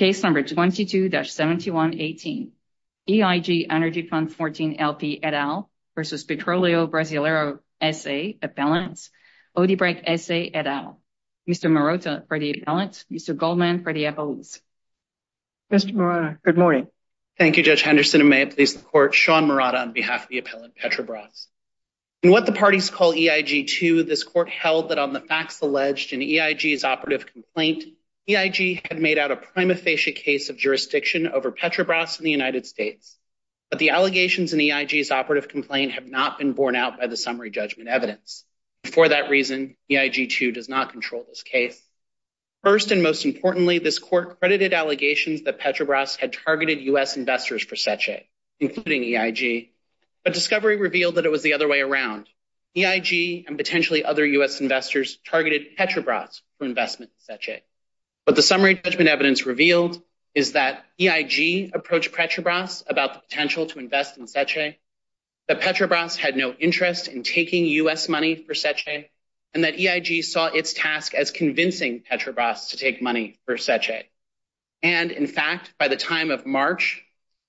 Appellant, Odebrecht, S.A. Et al. Mr. Marotta for the appellant, Mr. Goldman for the appellants. Mr. Marotta, good morning. Thank you, Judge Henderson. And may it please the Court, Sean Marotta on behalf of the appellant, Petrobras. In what the parties call EIG 2, this court held that on the facts alleged in EIG's operative complaint, EIG had made out a pre-emptive complaint. case of jurisdiction over Petrobras in the United States. But the allegations in EIG's operative complaint have not been borne out by the summary judgment evidence. For that reason, EIG 2 does not control this case. First and most importantly, this court credited allegations that Petrobras had targeted U.S. investors for Seche, including EIG. But discovery revealed that it was the other way around. EIG and potentially other U.S. investors targeted Petrobras for investment in Seche. But the summary judgment evidence revealed is that EIG approached Petrobras about the potential to invest in Seche, that Petrobras had no interest in taking U.S. money for Seche, and that EIG saw its task as convincing Petrobras to take money for Seche. And in fact, by the time of March,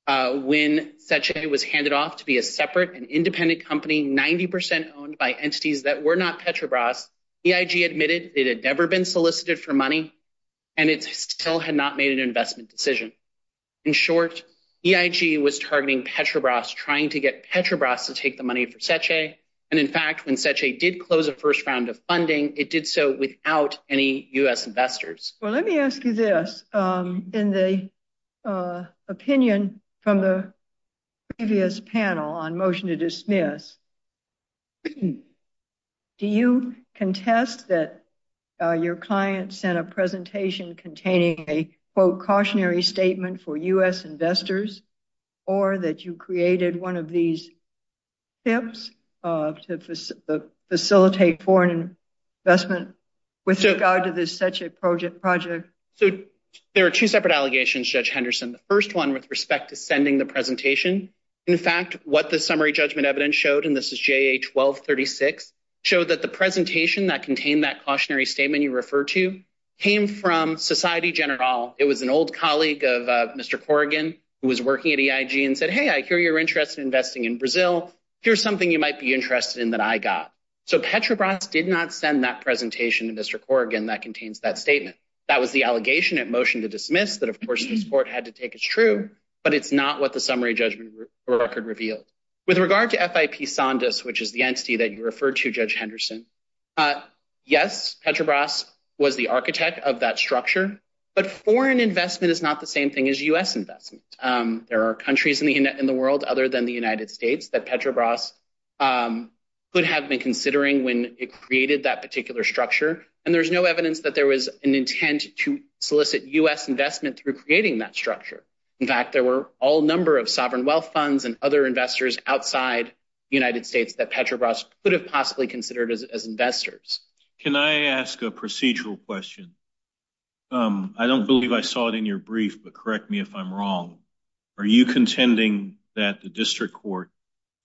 when Seche was handed off to be a separate and independent company, 90 percent owned by entities that were not Petrobras, EIG admitted it had never been solicited for money, and it still had not made an investment decision. In short, EIG was targeting Petrobras, trying to get Petrobras to take the money for Seche. And in fact, when Seche did close the first round of funding, it did so without any U.S. investors. Well, let me ask you this. In the opinion from the previous panel on motion to dismiss, do you contest that your client sent a presentation containing a, quote, cautionary statement for U.S. investors, or that you created one of these tips to facilitate foreign investment with regard to the Seche project? So there are two separate allegations, Judge Henderson. The first one, with respect to sending the presentation, in fact, what the summary judgment evidence showed, and this is JA 1236, showed that the presentation that contained that cautionary statement you refer to came from Society General. It was an old colleague of Mr. Corrigan, who was working at EIG, and said, hey, I hear your interest in investing in Brazil. Here's something you might be interested in that I got. So Petrobras did not send that presentation to Mr. Corrigan that contains that statement. That was the allegation at motion to dismiss that, of course, this court had to take as true, but it's not what the summary judgment record revealed. With regard to FIP Sandus, which is the entity that you referred to, Judge Henderson, yes, Petrobras was the architect of that structure, but foreign investment is not the same thing as U.S. investment. There are countries in the world, other than the United States, that Petrobras could have been considering when it created that particular structure, and there's no evidence that there was an intent to solicit U.S. investment through creating that structure. In fact, there were all number of sovereign wealth funds and other investors outside the United States that Petrobras could have possibly considered as investors. Can I ask a procedural question? I don't believe I saw it in your brief, but correct me if I'm wrong. Are you contending that the district court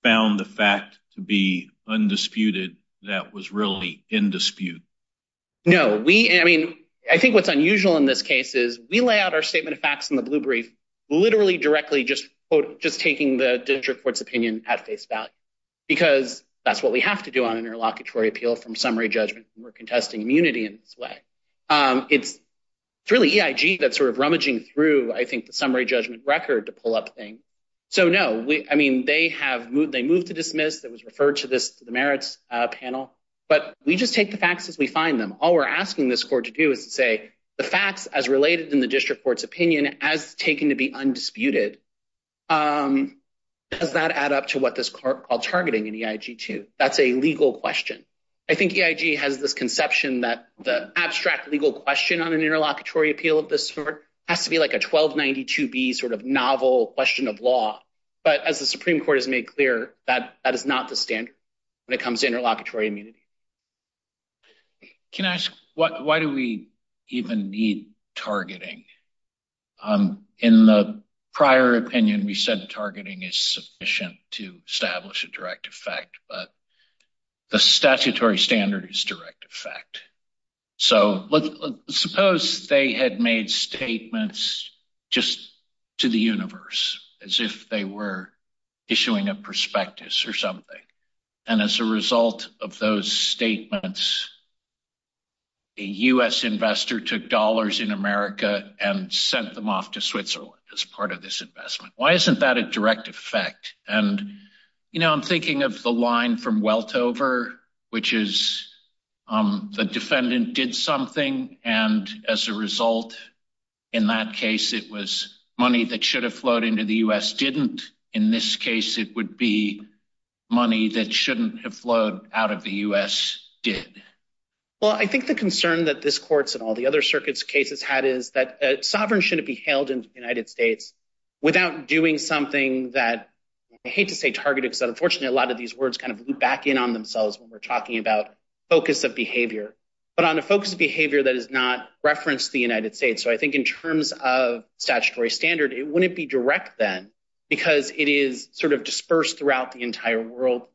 found the fact to be undisputed that was really in dispute? No. I mean, I think what's unusual in this case is we lay out our statement of facts in the blue brief literally directly just taking the district court's opinion at face value, because that's what we have to do on an interlocutory appeal from summary judgment. We're contesting immunity in this way. It's really EIG that's sort of rummaging through, I think, the summary judgment record to pull up things. So, no. I mean, they moved to dismiss. It was referred to the merits panel. But we just take the facts as we find them. All we're asking this court to do is to say the facts as related in the district court's opinion as taken to be undisputed, does that add up to what this court called targeting in EIG-2? That's a legal question. I think EIG has this conception that the abstract legal question on an interlocutory appeal of this court has to be like a 1292B sort of novel question of law. But as the Supreme Court has made clear, that is not the standard when it comes to interlocutory immunity. Can I ask, why do we even need targeting? In the prior opinion, we said targeting is sufficient to establish a direct effect. But the statutory standard is direct effect. So, suppose they had made statements just to the universe as if they were issuing a prospectus or something. And as a result of those statements, a U.S. investor took dollars in America and sent them off to Switzerland as part of this investment. Why isn't that a direct effect? And, you know, I'm thinking of the line from Weltover, which is the defendant did something. And as a result, in that case, it was money that should have flowed into the U.S. didn't. In this case, it would be money that shouldn't have flowed out of the U.S. did. Well, I think the concern that this court's and all the other circuits cases had is that sovereign shouldn't be held in the United States without doing something that I hate to say targeted. Unfortunately, a lot of these words kind of loop back in on themselves when we're talking about focus of behavior, but on the focus of behavior that is not referenced the United States. So I think in terms of statutory standard, it wouldn't be direct then because it is sort of dispersed throughout the entire world.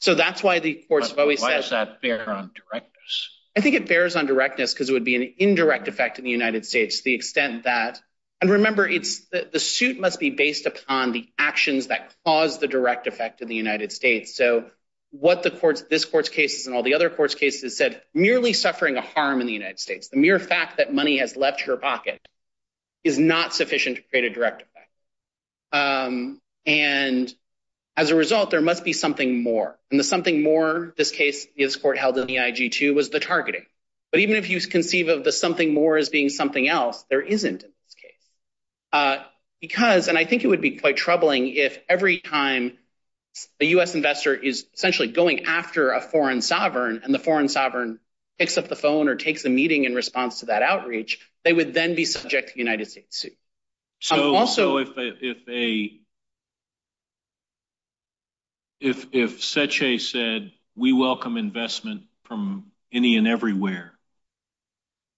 So that's why the courts have always said. Why does that bear on directness? I think it bears on directness because it would be an indirect effect in the United States. The extent that. And remember, it's the suit must be based upon the actions that cause the direct effect in the United States. So what the courts, this court's cases and all the other courts cases said, merely suffering a harm in the United States, the mere fact that money has left your pocket is not sufficient to create a direct effect. And as a result, there must be something more and something more. Remember, this case, this court held in the IG2 was the targeting. But even if you conceive of the something more as being something else, there isn't in this case. Because, and I think it would be quite troubling if every time a U.S. investor is essentially going after a foreign sovereign and the foreign sovereign picks up the phone or takes a meeting in response to that outreach, they would then be subject to the United States suit. Also, if they. If if such a said, we welcome investment from any and everywhere.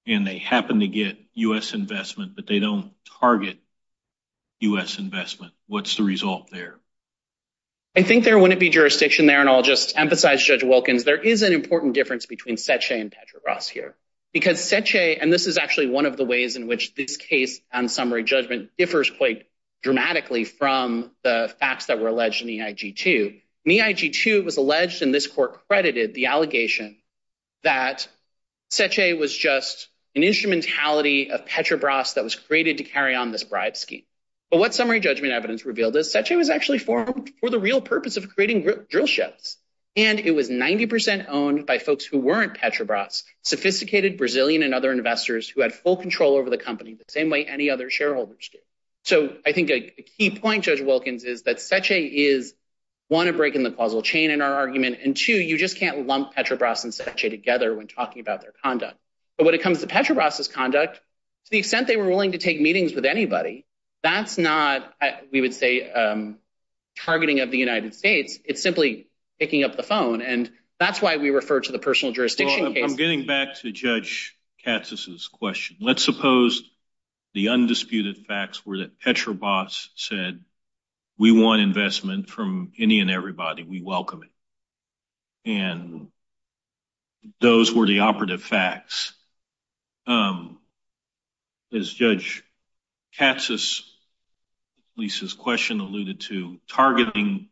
And they happen to get U.S. investment, but they don't target U.S. investment. What's the result there? I think there wouldn't be jurisdiction there, and I'll just emphasize Judge Wilkins, there is an important difference between such a and Petra Ross here because such a and this is actually one of the ways in which this case on summary judgment differs quite dramatically from the facts that were alleged in the IG2. The IG2 was alleged in this court credited the allegation that such a was just an instrumentality of Petra Bras that was created to carry on this bribe scheme. But what summary judgment evidence revealed is such a was actually formed for the real purpose of creating drill ships. And it was 90 percent owned by folks who weren't Petra Bras sophisticated Brazilian and other investors who had full control over the company, the same way any other shareholders do. So I think a key point, Judge Wilkins, is that such a is one of breaking the causal chain in our argument. And two, you just can't lump Petra Bras and such a together when talking about their conduct. But when it comes to Petra Bras conduct, to the extent they were willing to take meetings with anybody, that's not we would say targeting of the United States. It's simply picking up the phone. And that's why we refer to the personal jurisdiction. I'm getting back to Judge Katz's question. Let's suppose the undisputed facts were that Petra Bras said we want investment from any and everybody. We welcome it. And those were the operative facts. As Judge Katz's question alluded to, targeting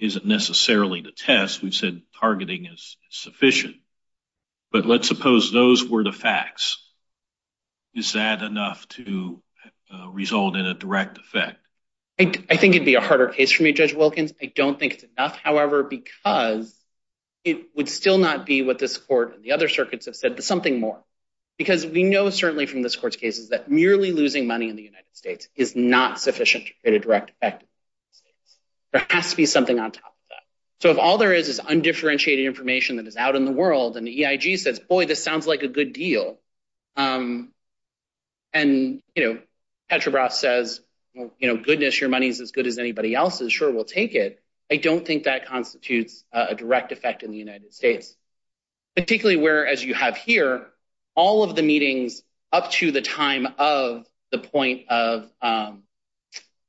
isn't necessarily the test. We've said targeting is sufficient. But let's suppose those were the facts. Is that enough to result in a direct effect? I think it'd be a harder case for me, Judge Wilkins. I don't think it's enough, however, because it would still not be what this court and the other circuits have said, but something more. Because we know certainly from this court's cases that merely losing money in the United States is not sufficient to create a direct effect in the United States. There has to be something on top of that. So if all there is is undifferentiated information that is out in the world and the EIG says, boy, this sounds like a good deal, and Petra Bras says, goodness, your money is as good as anybody else's. Sure, we'll take it. I don't think that constitutes a direct effect in the United States, particularly where, as you have here, all of the meetings up to the time of the point of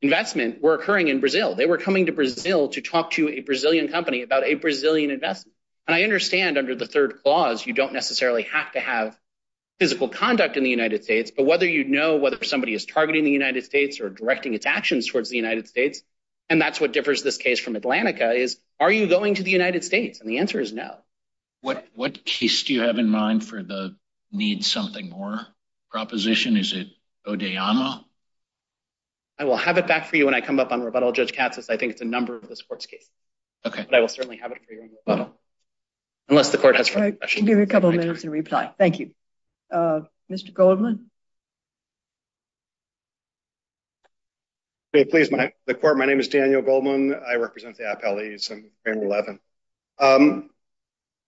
investment were occurring in Brazil. They were coming to Brazil to talk to a Brazilian company about a Brazilian investment. And I understand under the third clause, you don't necessarily have to have physical conduct in the United States, but whether you know whether somebody is targeting the United States or directing its actions towards the United States, and that's what differs this case from Atlantica, is are you going to the United States? And the answer is no. What case do you have in mind for the need something more proposition? Is it Odeyama? I will have it back for you when I come up on rebuttal, Judge Katsas. I think it's a number for this court's case. Okay. But I will certainly have it for you in rebuttal, unless the court has further questions. I'll give you a couple of minutes to reply. Thank you. Mr. Goldman? May it please the court? My name is Daniel Goldman. I represent the appellees in frame 11.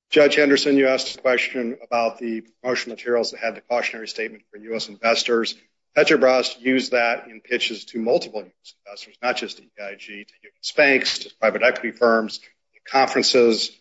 Judge Henderson, you asked a question about the promotional materials that had the cautionary statement for U.S. investors. Petrobras used that in pitches to multiple U.S. investors, not just EIG, to U.S. banks, to private equity firms, to conferences.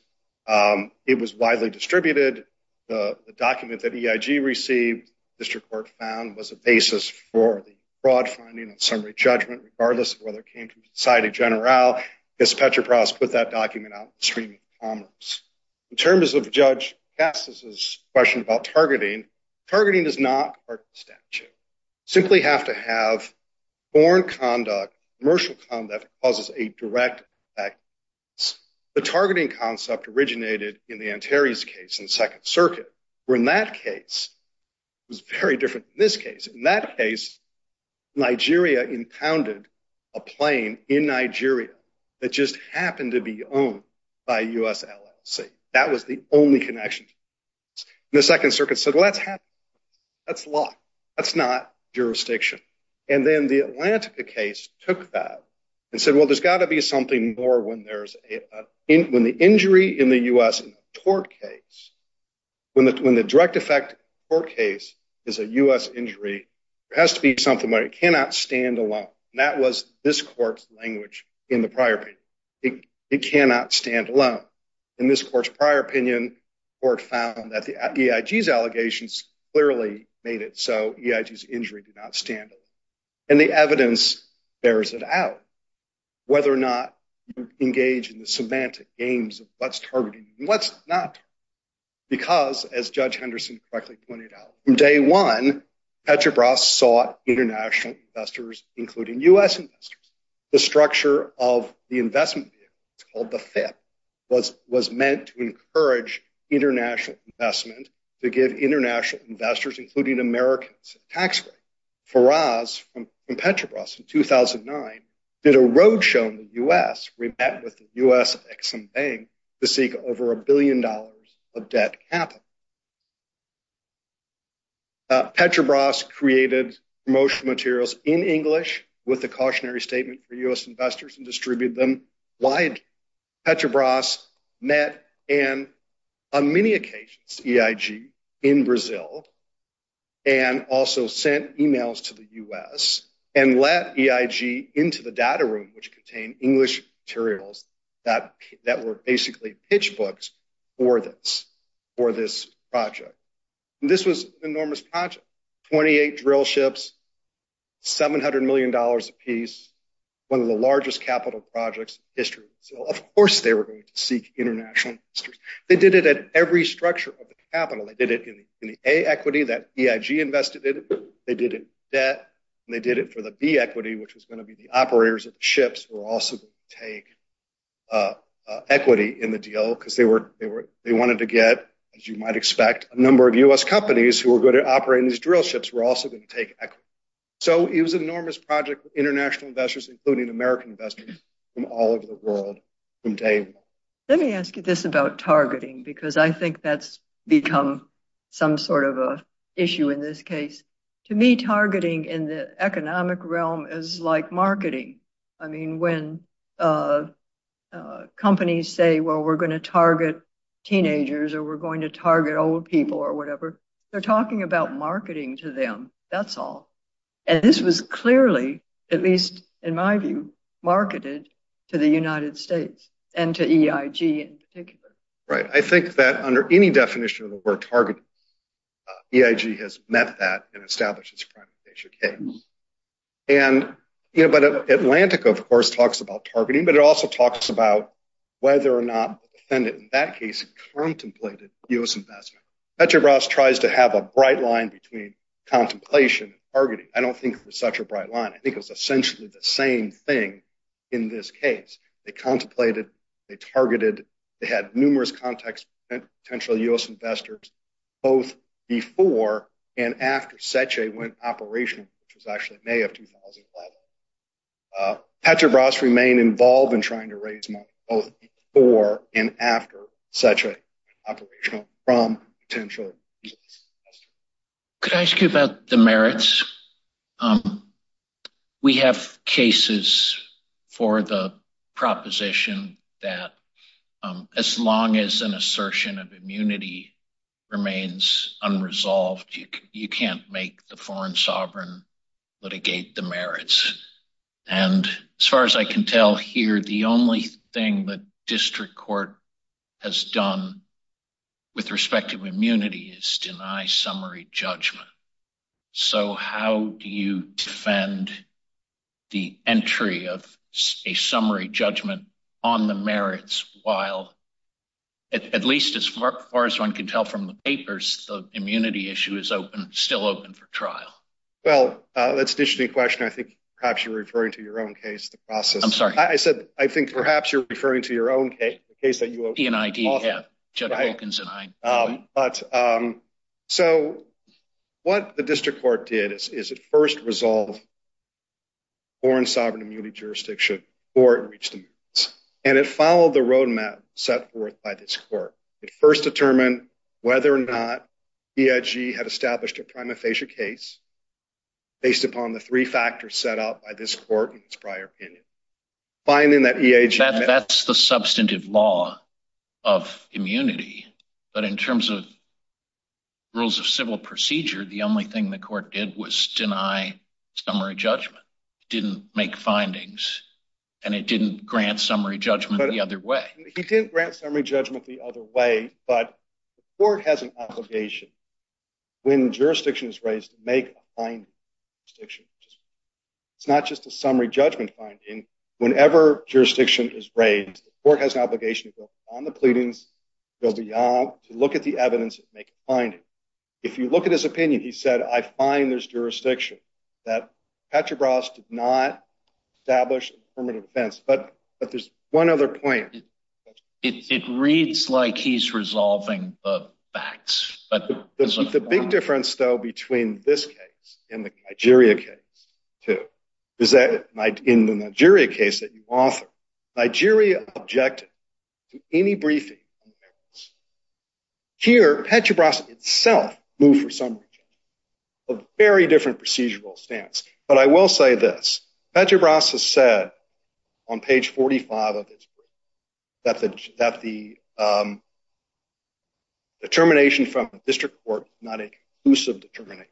It was widely distributed. The document that EIG received, the district court found, was a basis for the fraud finding and summary judgment, regardless of whether it came from the Society General. I guess Petrobras put that document out in the street in commerce. In terms of Judge Katsas' question about targeting, targeting is not part of the statute. You simply have to have foreign conduct, commercial conduct, that causes a direct effect. The targeting concept originated in the Antares case in the Second Circuit, where in that case, it was very different from this case. In that case, Nigeria impounded a plane in Nigeria that just happened to be owned by a U.S. LLC. That was the only connection. The Second Circuit said, well, that's happening. That's law. That's not jurisdiction. And then the Atlantica case took that and said, well, there's got to be something more when the injury in the U.S. in a tort case, when the direct effect in a tort case is a U.S. injury, there has to be something where it cannot stand alone. That was this court's language in the prior opinion. It cannot stand alone. In this court's prior opinion, the court found that the EIG's allegations clearly made it so EIG's injury did not stand alone. And the evidence bears it out, whether or not you engage in the semantic aims of what's targeting and what's not. Because, as Judge Henderson correctly pointed out, from day one, Petrobras sought international investors, including U.S. investors. The structure of the investment vehicle, it's called the FIP, was meant to encourage international investment, to give international investors, including Americans, a tax break. Faraz from Petrobras in 2009 did a roadshow in the U.S. where he met with the U.S. Ex-Im Bank to seek over a billion dollars of debt capital. Petrobras created promotional materials in English with a cautionary statement for U.S. investors and distributed them wide. Petrobras met and, on many occasions, EIG in Brazil and also sent emails to the U.S. and let EIG into the data room, which contained English materials that were basically pitch books for this project. And this was an enormous project. Twenty-eight drill ships, $700 million apiece, one of the largest capital projects in history in Brazil. Of course they were going to seek international investors. They did it at every structure of the capital. They did it in the A equity that EIG invested in. They did it in debt. And they did it for the B equity, which was going to be the operators of the ships who wanted to get, as you might expect, a number of U.S. companies who were good at operating these drill ships were also going to take equity. So it was an enormous project with international investors, including American investors from all over the world. Let me ask you this about targeting, because I think that's become some sort of an issue in this case. To me, targeting in the economic realm is like marketing. When companies say, well, we're going to target teenagers or we're going to target old people or whatever, they're talking about marketing to them. That's all. And this was clearly, at least in my view, marketed to the United States and to EIG in particular. Right. I think that under any definition of the word targeting, EIG has met that and established its accreditation case. But Atlantic, of course, talks about targeting, but it also talks about whether or not the defendant in that case contemplated U.S. investment. Seche Bras tries to have a bright line between contemplation and targeting. I don't think there's such a bright line. I think it was essentially the same thing in this case. They contemplated, they targeted, they had numerous contacts with potential U.S. investors both before and after Seche went operational, which was actually May of 2011. Petra Bras remained involved in trying to raise money both before and after Seche went operational from potential U.S. investors. We have cases for the proposition that as long as an assertion of immunity remains unresolved, you can't make the foreign sovereign litigate the merits. And as far as I can tell here, the only thing the district court has done with respect to immunity is deny summary judgment. So how do you defend the entry of a summary judgment on the merits while, at least as far as one can tell from the papers, the immunity issue is open, still open for trial? Well, that's an interesting question. I think perhaps you're referring to your own case, the process. I'm sorry. I said, I think perhaps you're referring to your own case, the case that you own. P&ID, yeah, Judd Hawkins and I. So what the district court did is it first resolved foreign sovereign immunity jurisdiction or it reached the merits. And it followed the roadmap set forth by this court. It first determined whether or not EIG had established a prima facie case based upon the three factors set out by this court in its prior opinion. That's the substantive law of immunity. But in terms of rules of civil procedure, the only thing the court did was deny summary judgment, didn't make findings, and it didn't grant summary judgment the other way. He didn't grant summary judgment the other way. But the court has an obligation when jurisdiction is raised to make a finding. It's not just a summary judgment finding. Whenever jurisdiction is raised, the court has an obligation to go beyond the pleadings, go beyond, to look at the evidence and make a finding. If you look at his opinion, he said, I find there's jurisdiction. That Patrick Ross did not establish affirmative defense. But there's one other point. It reads like he's resolving the facts. The big difference, though, between this case and the Nigeria case, too, is that in the Nigeria case that you author, Nigeria objected to any briefing on the merits. Here, Patrick Ross itself moved for summary judgment, a very different procedural stance. But I will say this. Patrick Ross has said on page 45 of his brief that the determination from the district court is not an exclusive determination.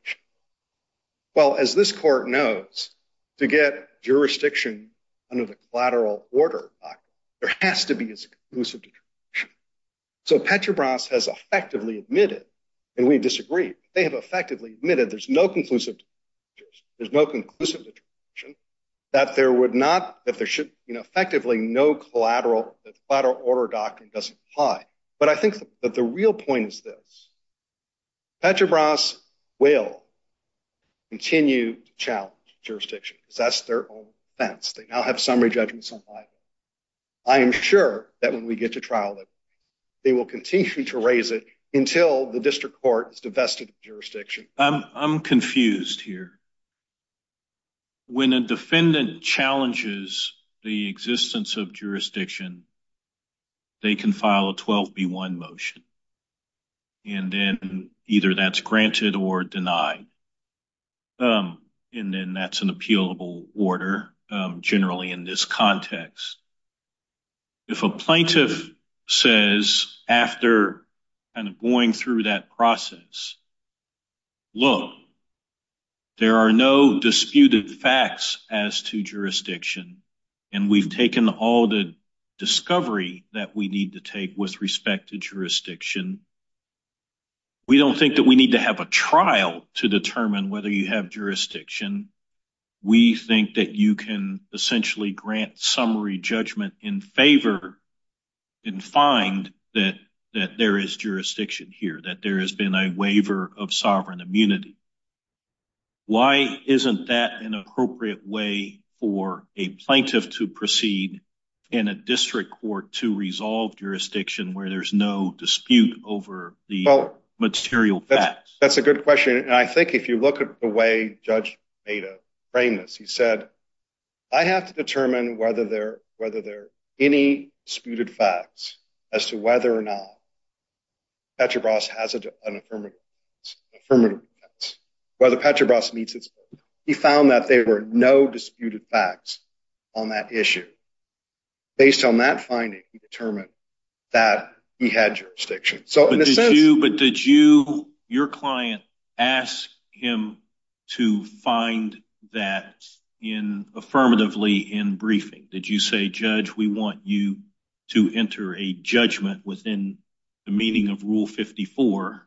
Well, as this court knows, to get jurisdiction under the collateral order, there has to be an exclusive determination. So Patrick Ross has effectively admitted, and we disagree, they have effectively admitted there's no conclusive determination. There's no conclusive determination that there would not, that there should, you know, effectively no collateral, that the collateral order doctrine doesn't apply. But I think that the real point is this. Patrick Ross will continue to challenge jurisdiction, because that's their own defense. They now have summary judgments on file. I am sure that when we get to trial, they will continue to raise it until the district court is divested of jurisdiction. I'm confused here. When a defendant challenges the existence of jurisdiction, they can file a 12B1 motion, and then either that's granted or denied. And then that's an appealable order generally in this context. If a plaintiff says after kind of going through that process, look, there are no disputed facts as to jurisdiction, and we've taken all the discovery that we need to take with respect to jurisdiction, we don't think that we need to have a trial to determine whether you have jurisdiction. We think that you can essentially grant summary judgment in favor and find that there is jurisdiction here, that there has been a waiver of sovereign immunity. Why isn't that an appropriate way for a plaintiff to proceed in a district court to resolve jurisdiction where there's no dispute over the material facts? That's a good question. And I think if you look at the way Judge Beda framed this, he said, I have to determine whether there are any disputed facts as to whether or not Petrobras has an affirmative defense, whether Petrobras meets its purpose. He found that there were no disputed facts on that issue. Based on that finding, he determined that he had jurisdiction. But did your client ask him to find that affirmatively in briefing? Did you say, Judge, we want you to enter a judgment within the meaning of Rule 54,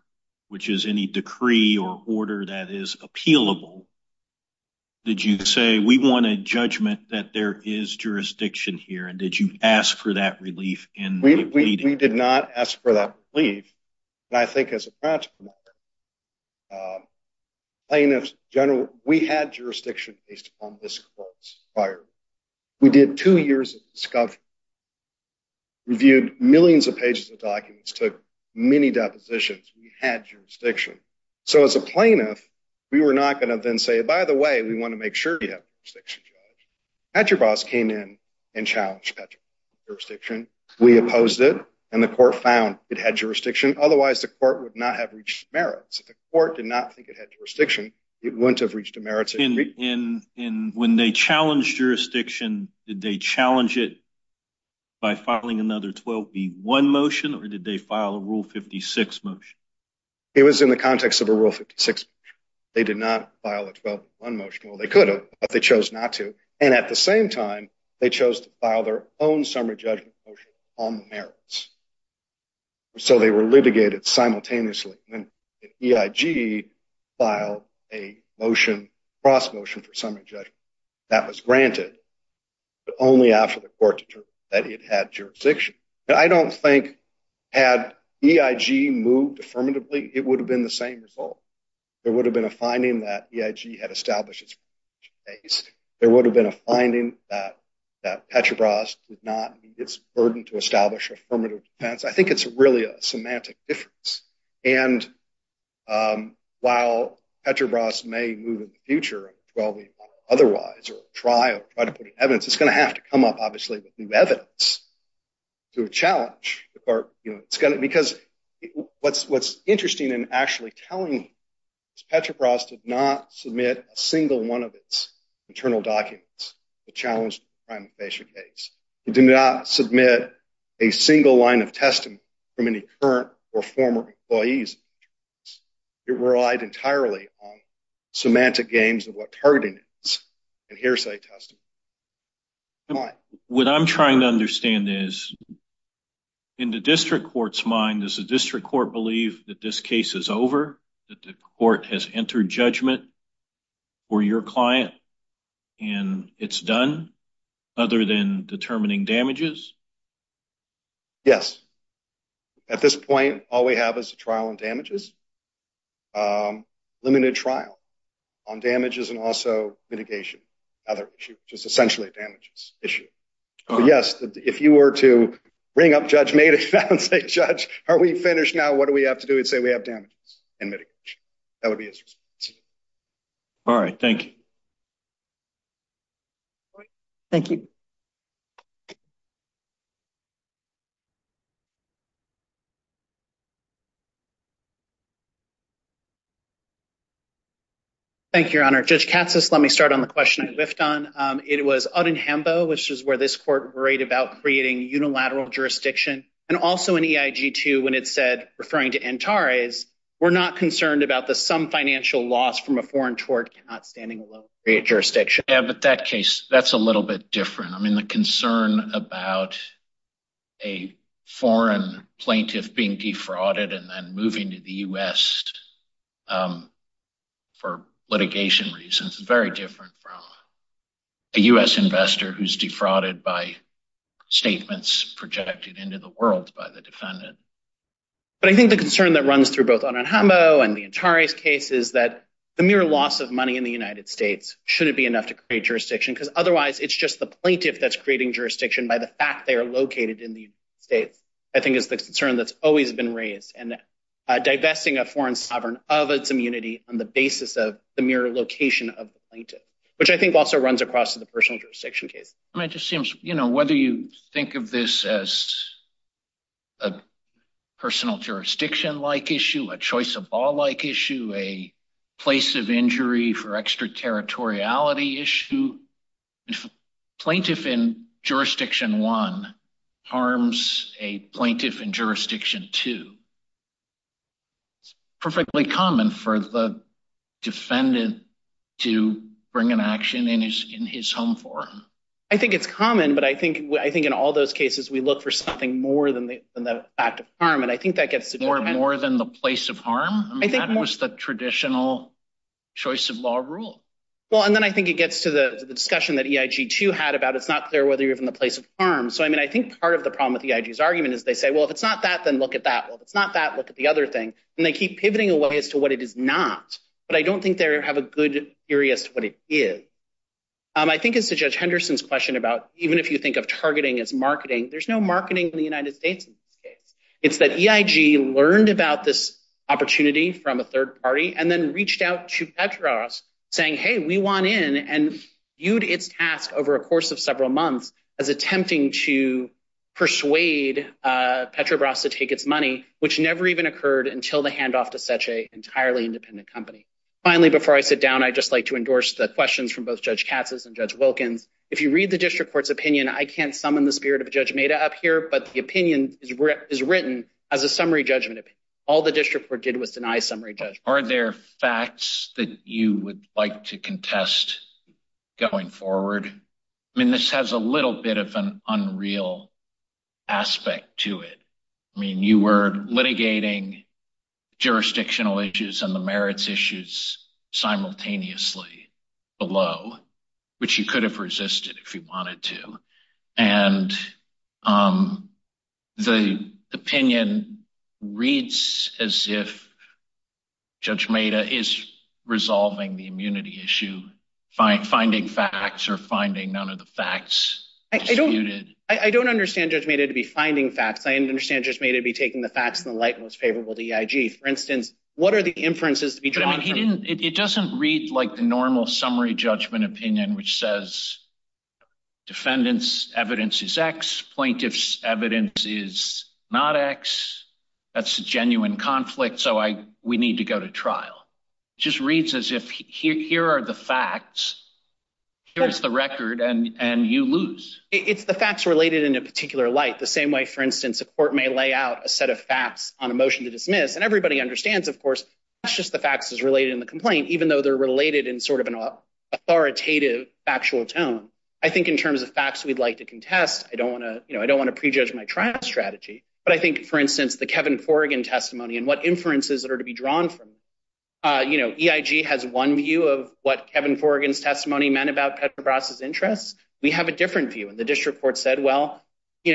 which is any decree or order that is appealable? Did you say, we want a judgment that there is jurisdiction here, and did you ask for that relief in the meeting? We did not ask for that relief. And I think as a practical matter, plaintiffs in general, we had jurisdiction based upon this court's inquiry. We did two years of discovery, reviewed millions of pages of documents, took many depositions. We had jurisdiction. So as a plaintiff, we were not going to then say, by the way, we want to make sure you have jurisdiction, Judge. Petrobras came in and challenged Petrobras' jurisdiction. We opposed it. And the court found it had jurisdiction. Otherwise, the court would not have reached a merit. So the court did not think it had jurisdiction. It wouldn't have reached a merit. And when they challenged jurisdiction, did they challenge it by filing another 12B1 motion, or did they file a Rule 56 motion? It was in the context of a Rule 56 motion. They did not file a 12B1 motion. Well, they could have, but they chose not to. And at the same time, they chose to file their own summary judgment motion on the merits. So they were litigated simultaneously. And EIG filed a motion, cross motion for summary judgment. That was granted, but only after the court determined that it had jurisdiction. I don't think had EIG moved affirmatively, it would have been the same result. There would have been a finding that EIG had established its jurisdiction based. There would have been a finding that Petrobras did not need its burden to establish affirmative defense. I think it's really a semantic difference. And while Petrobras may move in the future a 12B1 or otherwise or try to put in evidence, it's going to have to come up, obviously, with new evidence to a challenge. Because what's interesting and actually telling is Petrobras did not submit a single one of its internal documents to challenge the crime of facial case. It did not submit a single line of testimony from any current or former employees. It relied entirely on semantic games of what targeting is and hearsay testimony. What I'm trying to understand is in the district court's mind, does the district court believe that this case is over, that the court has entered judgment for your client, and it's done other than determining damages? Yes. At this point, all we have is a trial on damages, limited trial on damages, and also mitigation, another issue, which is essentially a damages issue. But, yes, if you were to ring up Judge Madoff and say, Judge, are we finished now? What do we have to do? He'd say we have damages and mitigation. That would be his response. All right. Thank you. Thank you. Thank you. Thank you, Your Honor. Judge Katsas, let me start on the question I left on. It was out in Hambo, which is where this court worried about creating unilateral jurisdiction. And also in EIG, too, when it said, referring to Antares, we're not concerned about the some financial loss from a foreign tort not standing alone jurisdiction. Yeah, but that case, that's a little bit different. I mean, the concern about a foreign plaintiff being defrauded and then moving to the U.S. for litigation reasons is very different from a U.S. investor who's defrauded by statements projected into the world by the defendant. But I think the concern that runs through both on Hambo and the Antares case is that the mere loss of money in the United States shouldn't be enough to create jurisdiction, because otherwise it's just the plaintiff that's creating jurisdiction by the fact they are located in the United States, I think is the concern that's always been raised. And divesting a foreign sovereign of its immunity on the basis of the mere location of the plaintiff, which I think also runs across to the personal jurisdiction case. It just seems, you know, whether you think of this as a personal jurisdiction-like issue, a choice-of-all-like issue, a place of injury for extraterritoriality issue, a plaintiff in jurisdiction one harms a plaintiff in jurisdiction two. It's perfectly common for the defendant to bring an action in his home forum. I think it's common, but I think in all those cases we look for something more than the act of harm, and I think that gets to the point. More than the place of harm? I mean, that was the traditional choice-of-law rule. Well, and then I think it gets to the discussion that EIG, too, had about it's not clear whether you're in the place of harm. So, I mean, I think part of the problem with EIG's argument is they say, well, if it's not that, then look at that. Well, if it's not that, look at the other thing. And they keep pivoting away as to what it is not. But I don't think they have a good theory as to what it is. I think as to Judge Henderson's question about even if you think of targeting as marketing, there's no marketing in the United States in this case. It's that EIG learned about this opportunity from a third party and then reached out to Petrobras saying, hey, we want in, and viewed its task over a course of several months as attempting to persuade Petrobras to take its money, which never even occurred until the handoff to such an entirely independent company. Finally, before I sit down, I'd just like to endorse the questions from both Judge Katz's and Judge Wilkins. If you read the district court's opinion, I can't summon the spirit of Judge Maida up here, but the opinion is written as a summary judgment. All the district court did was deny summary judgment. Are there facts that you would like to contest going forward? I mean, this has a little bit of an unreal aspect to it. I mean, you were litigating jurisdictional issues and the merits issues simultaneously below, which you could have resisted if you wanted to. And the opinion reads as if Judge Maida is resolving the immunity issue, finding facts or finding none of the facts disputed. I don't understand Judge Maida to be finding facts. I understand Judge Maida to be taking the facts in the light and what's favorable to EIG. For instance, what are the inferences to be drawn from it? It doesn't read like the normal summary judgment opinion, which says defendants' evidence is X, plaintiffs' evidence is not X. That's a genuine conflict, so we need to go to trial. It just reads as if here are the facts, here's the record, and you lose. It's the facts related in a particular light, the same way, for instance, a court may lay out a set of facts on a motion to dismiss. And everybody understands, of course, that's just the facts as related in the complaint, even though they're related in sort of an authoritative factual tone. I think in terms of facts we'd like to contest, I don't want to prejudge my trial strategy. But I think, for instance, the Kevin Forigan testimony and what inferences are to be drawn from it. You know, EIG has one view of what Kevin Forigan's testimony meant about Petrobras' interests. We have a different view. And the district court said, well, you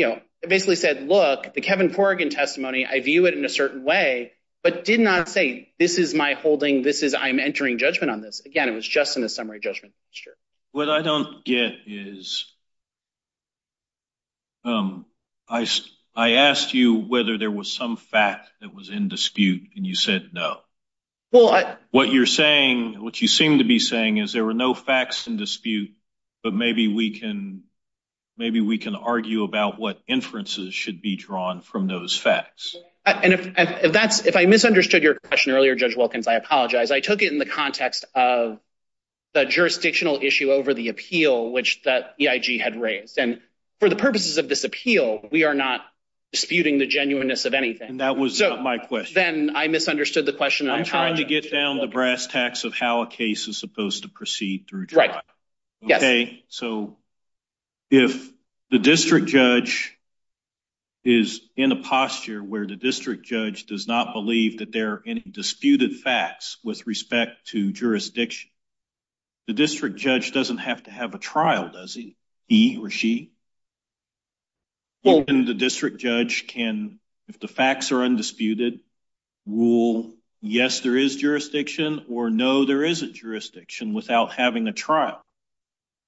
know, basically said, look, the Kevin Forigan testimony, I view it in a certain way, but did not say this is my holding, this is I'm entering judgment on this. Again, it was just in a summary judgment. What I don't get is I asked you whether there was some fact that was in dispute, and you said no. What you're saying, what you seem to be saying is there were no facts in dispute. But maybe we can maybe we can argue about what inferences should be drawn from those facts. And if that's if I misunderstood your question earlier, Judge Wilkins, I apologize. I took it in the context of the jurisdictional issue over the appeal, which that EIG had raised. And for the purposes of this appeal, we are not disputing the genuineness of anything. And that was my question. Then I misunderstood the question. I'm trying to get down the brass tacks of how a case is supposed to proceed. Right. OK, so if the district judge is in a posture where the district judge does not believe that there are any disputed facts with respect to jurisdiction, the district judge doesn't have to have a trial, does he or she? Well, the district judge can, if the facts are undisputed rule, yes, there is jurisdiction or no, there is a jurisdiction without having a trial,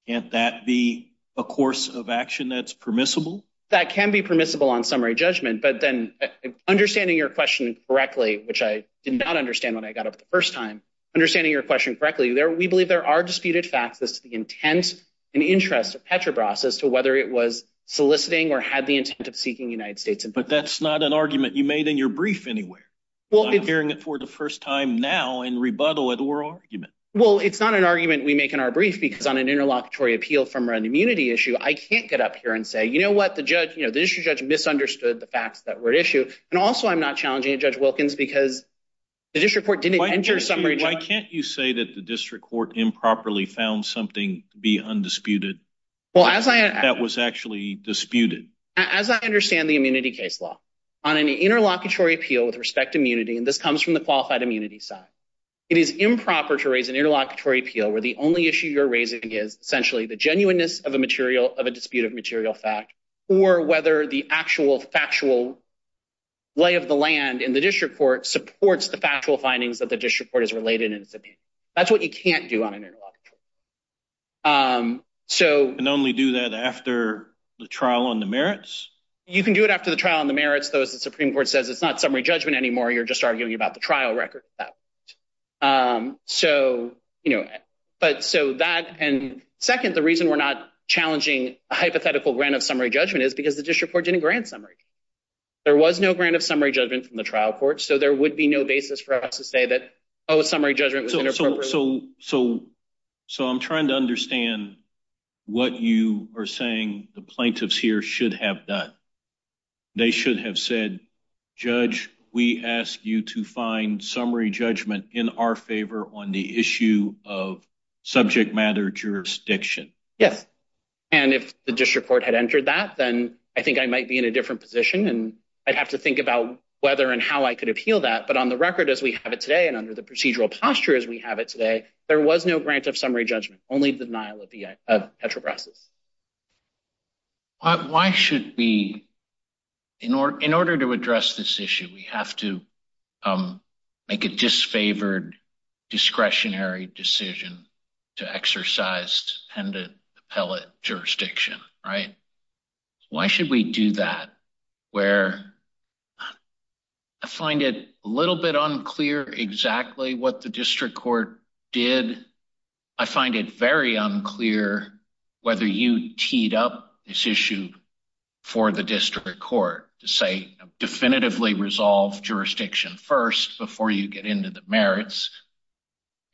and that be a course of action that's permissible. That can be permissible on summary judgment. But then understanding your question correctly, which I did not understand when I got up the first time, understanding your question correctly there, we believe there are disputed facts as to the intent and interest of Petrobras as to whether it was soliciting or had the intent of seeking United States. But that's not an argument you made in your brief anywhere. Well, hearing it for the first time now and rebuttal it or argument. Well, it's not an argument we make in our brief because on an interlocutory appeal from an immunity issue, I can't get up here and say, you know what the judge, you know, this judge misunderstood the facts that were issued. And also, I'm not challenging a judge Wilkins because the district court didn't enter summary. Why can't you say that the district court improperly found something to be undisputed? Well, as I was actually disputed, as I understand the immunity case law on an interlocutory appeal with respect to immunity, and this comes from the qualified immunity side. It is improper to raise an interlocutory appeal where the only issue you're raising is essentially the genuineness of a material of a dispute of material fact, or whether the actual factual. Lay of the land in the district court supports the factual findings that the district court is related. That's what you can't do on. So, and only do that after the trial on the merits, you can do it after the trial on the merits. Those the Supreme Court says it's not summary judgment anymore. You're just arguing about the trial record. So, you know, but so that and second, the reason we're not challenging a hypothetical grant of summary judgment is because the district court didn't grant summary. There was no grant of summary judgment from the trial court, so there would be no basis for us to say that a summary judgment. So, so, so, so I'm trying to understand what you are saying. The plaintiffs here should have done. They should have said, judge, we ask you to find summary judgment in our favor on the issue of subject matter jurisdiction. Yes, and if the district court had entered that, then I think I might be in a different position and I'd have to think about whether and how I could appeal that. But on the record, as we have it today, and under the procedural posture, as we have it today, there was no grant of summary judgment, only the denial of the actual process. Why should we, in order in order to address this issue, we have to make a disfavored discretionary decision to exercise dependent appellate jurisdiction. Right? Why should we do that? Where I find it a little bit unclear exactly what the district court did. I find it very unclear whether you teed up this issue for the district court to say definitively resolve jurisdiction first before you get into the merits.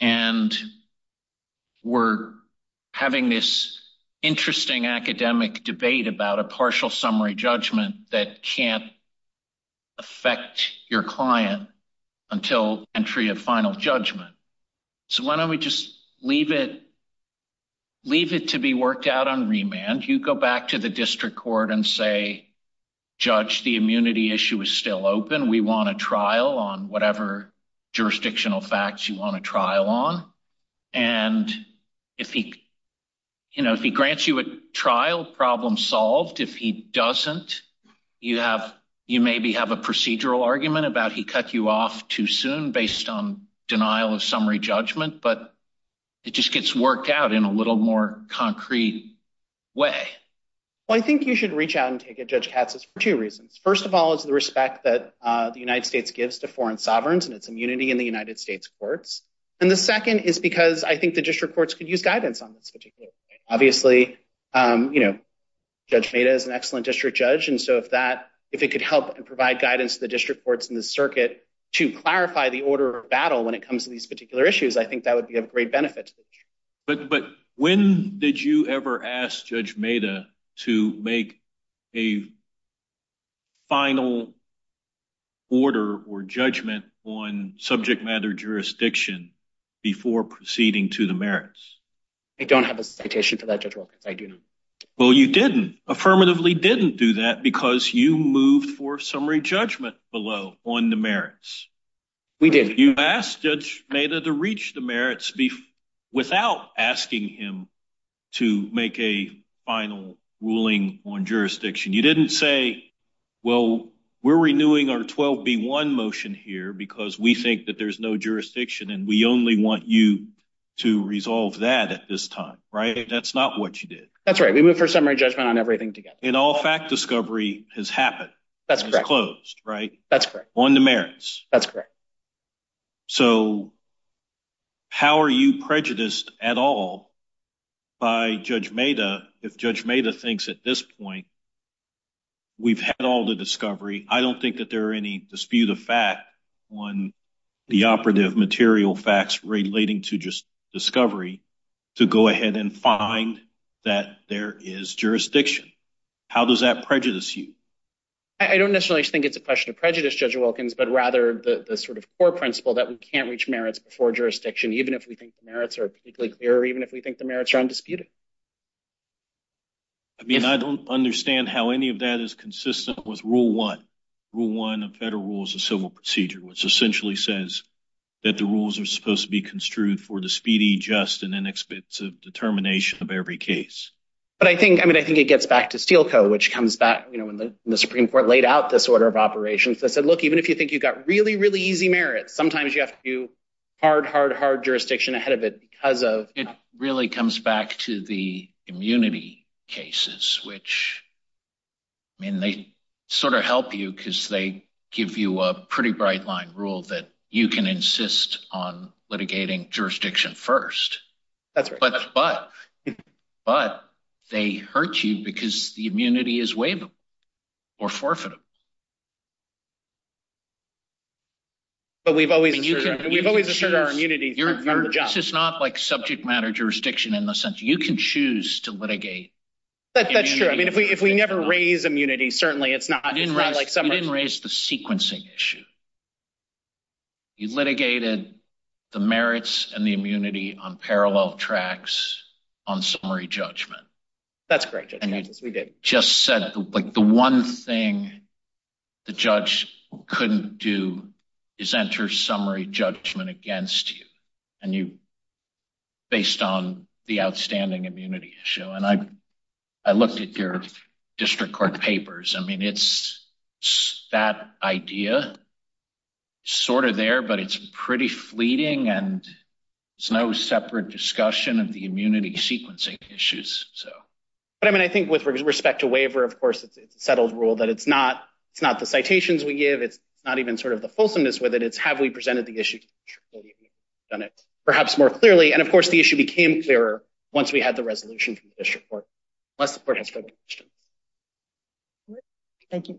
And we're having this interesting academic debate about a partial summary judgment that can't affect your client until entry of final judgment. So, why don't we just leave it, leave it to be worked out on remand. You go back to the district court and say, judge, the immunity issue is still open. We want a trial on whatever jurisdictional facts you want a trial on. And if he, you know, if he grants you a trial problem solved, if he doesn't, you have you maybe have a procedural argument about he cut you off too soon based on denial of summary judgment. But it just gets worked out in a little more concrete way. Well, I think you should reach out and take a judge taxes for two reasons. First of all, is the respect that the United States gives to foreign sovereigns and its immunity in the United States courts. And the second is because I think the district courts could use guidance on this particular. Obviously, you know, judge made as an excellent district judge. And so if that if it could help and provide guidance, the district courts in the circuit to clarify the order of battle when it comes to these particular issues, I think that would be a great benefit. But but when did you ever ask judge made to make a. Final order or judgment on subject matter jurisdiction before proceeding to the merits. I don't have a citation to that. I do. Well, you didn't affirmatively didn't do that because you moved for summary judgment below on the merits. We did. You asked judge made to reach the merits without asking him to make a final ruling on jurisdiction. You didn't say, well, we're renewing our 12 be one motion here because we think that there's no jurisdiction and we only want you to resolve that at this time. Right. That's not what you did. That's right. We went for summary judgment on everything together. In all fact, discovery has happened. That's closed. Right. That's correct. On the merits. That's correct. So, how are you prejudiced at all? By judge made a judge made a things at this point. We've had all the discovery. I don't think that there are any dispute of fact. The operative material facts relating to just discovery to go ahead and find that there is jurisdiction. How does that prejudice you? I don't necessarily think it's a question of prejudice judge Wilkins, but rather the sort of core principle that we can't reach merits before jurisdiction. Even if we think the merits are particularly clear, even if we think the merits are undisputed. I mean, I don't understand how any of that is consistent with rule 1 rule 1 of federal rules of civil procedure, which essentially says that the rules are supposed to be construed for the speedy, just and inexpensive determination of every case. But I think I mean, I think it gets back to steel code, which comes back when the Supreme Court laid out this order of operations. I said, look, even if you think you've got really, really easy merits, sometimes you have to do hard, hard, hard jurisdiction ahead of it because of it really comes back to the. The immunity cases, which. I mean, they sort of help you because they give you a pretty bright line rule that you can insist on litigating jurisdiction 1st. That's right, but but they hurt you because the immunity is way. Or forfeit. But we've always, we've always assured our immunity. This is not like subject matter jurisdiction in the sense you can choose to litigate. That's true. I mean, if we, if we never raise immunity, certainly it's not, it's not like someone didn't raise the sequencing issue. You litigated the merits and the immunity on parallel tracks. On summary judgment. That's great. We did just said, like, the 1 thing. The judge couldn't do is enter summary judgment against you and you. Based on the outstanding immunity issue, and I, I looked at your district court papers. I mean, it's that idea. Sort of there, but it's pretty fleeting and. It's no separate discussion of the immunity sequencing issues. So. But, I mean, I think with respect to waiver, of course, it's a settled rule that it's not, it's not the citations we give. It's not even sort of the fulsomeness with it. It's have we presented the issue. Done it perhaps more clearly and of course, the issue became clearer. Once we had the resolution from the district court. Thank you.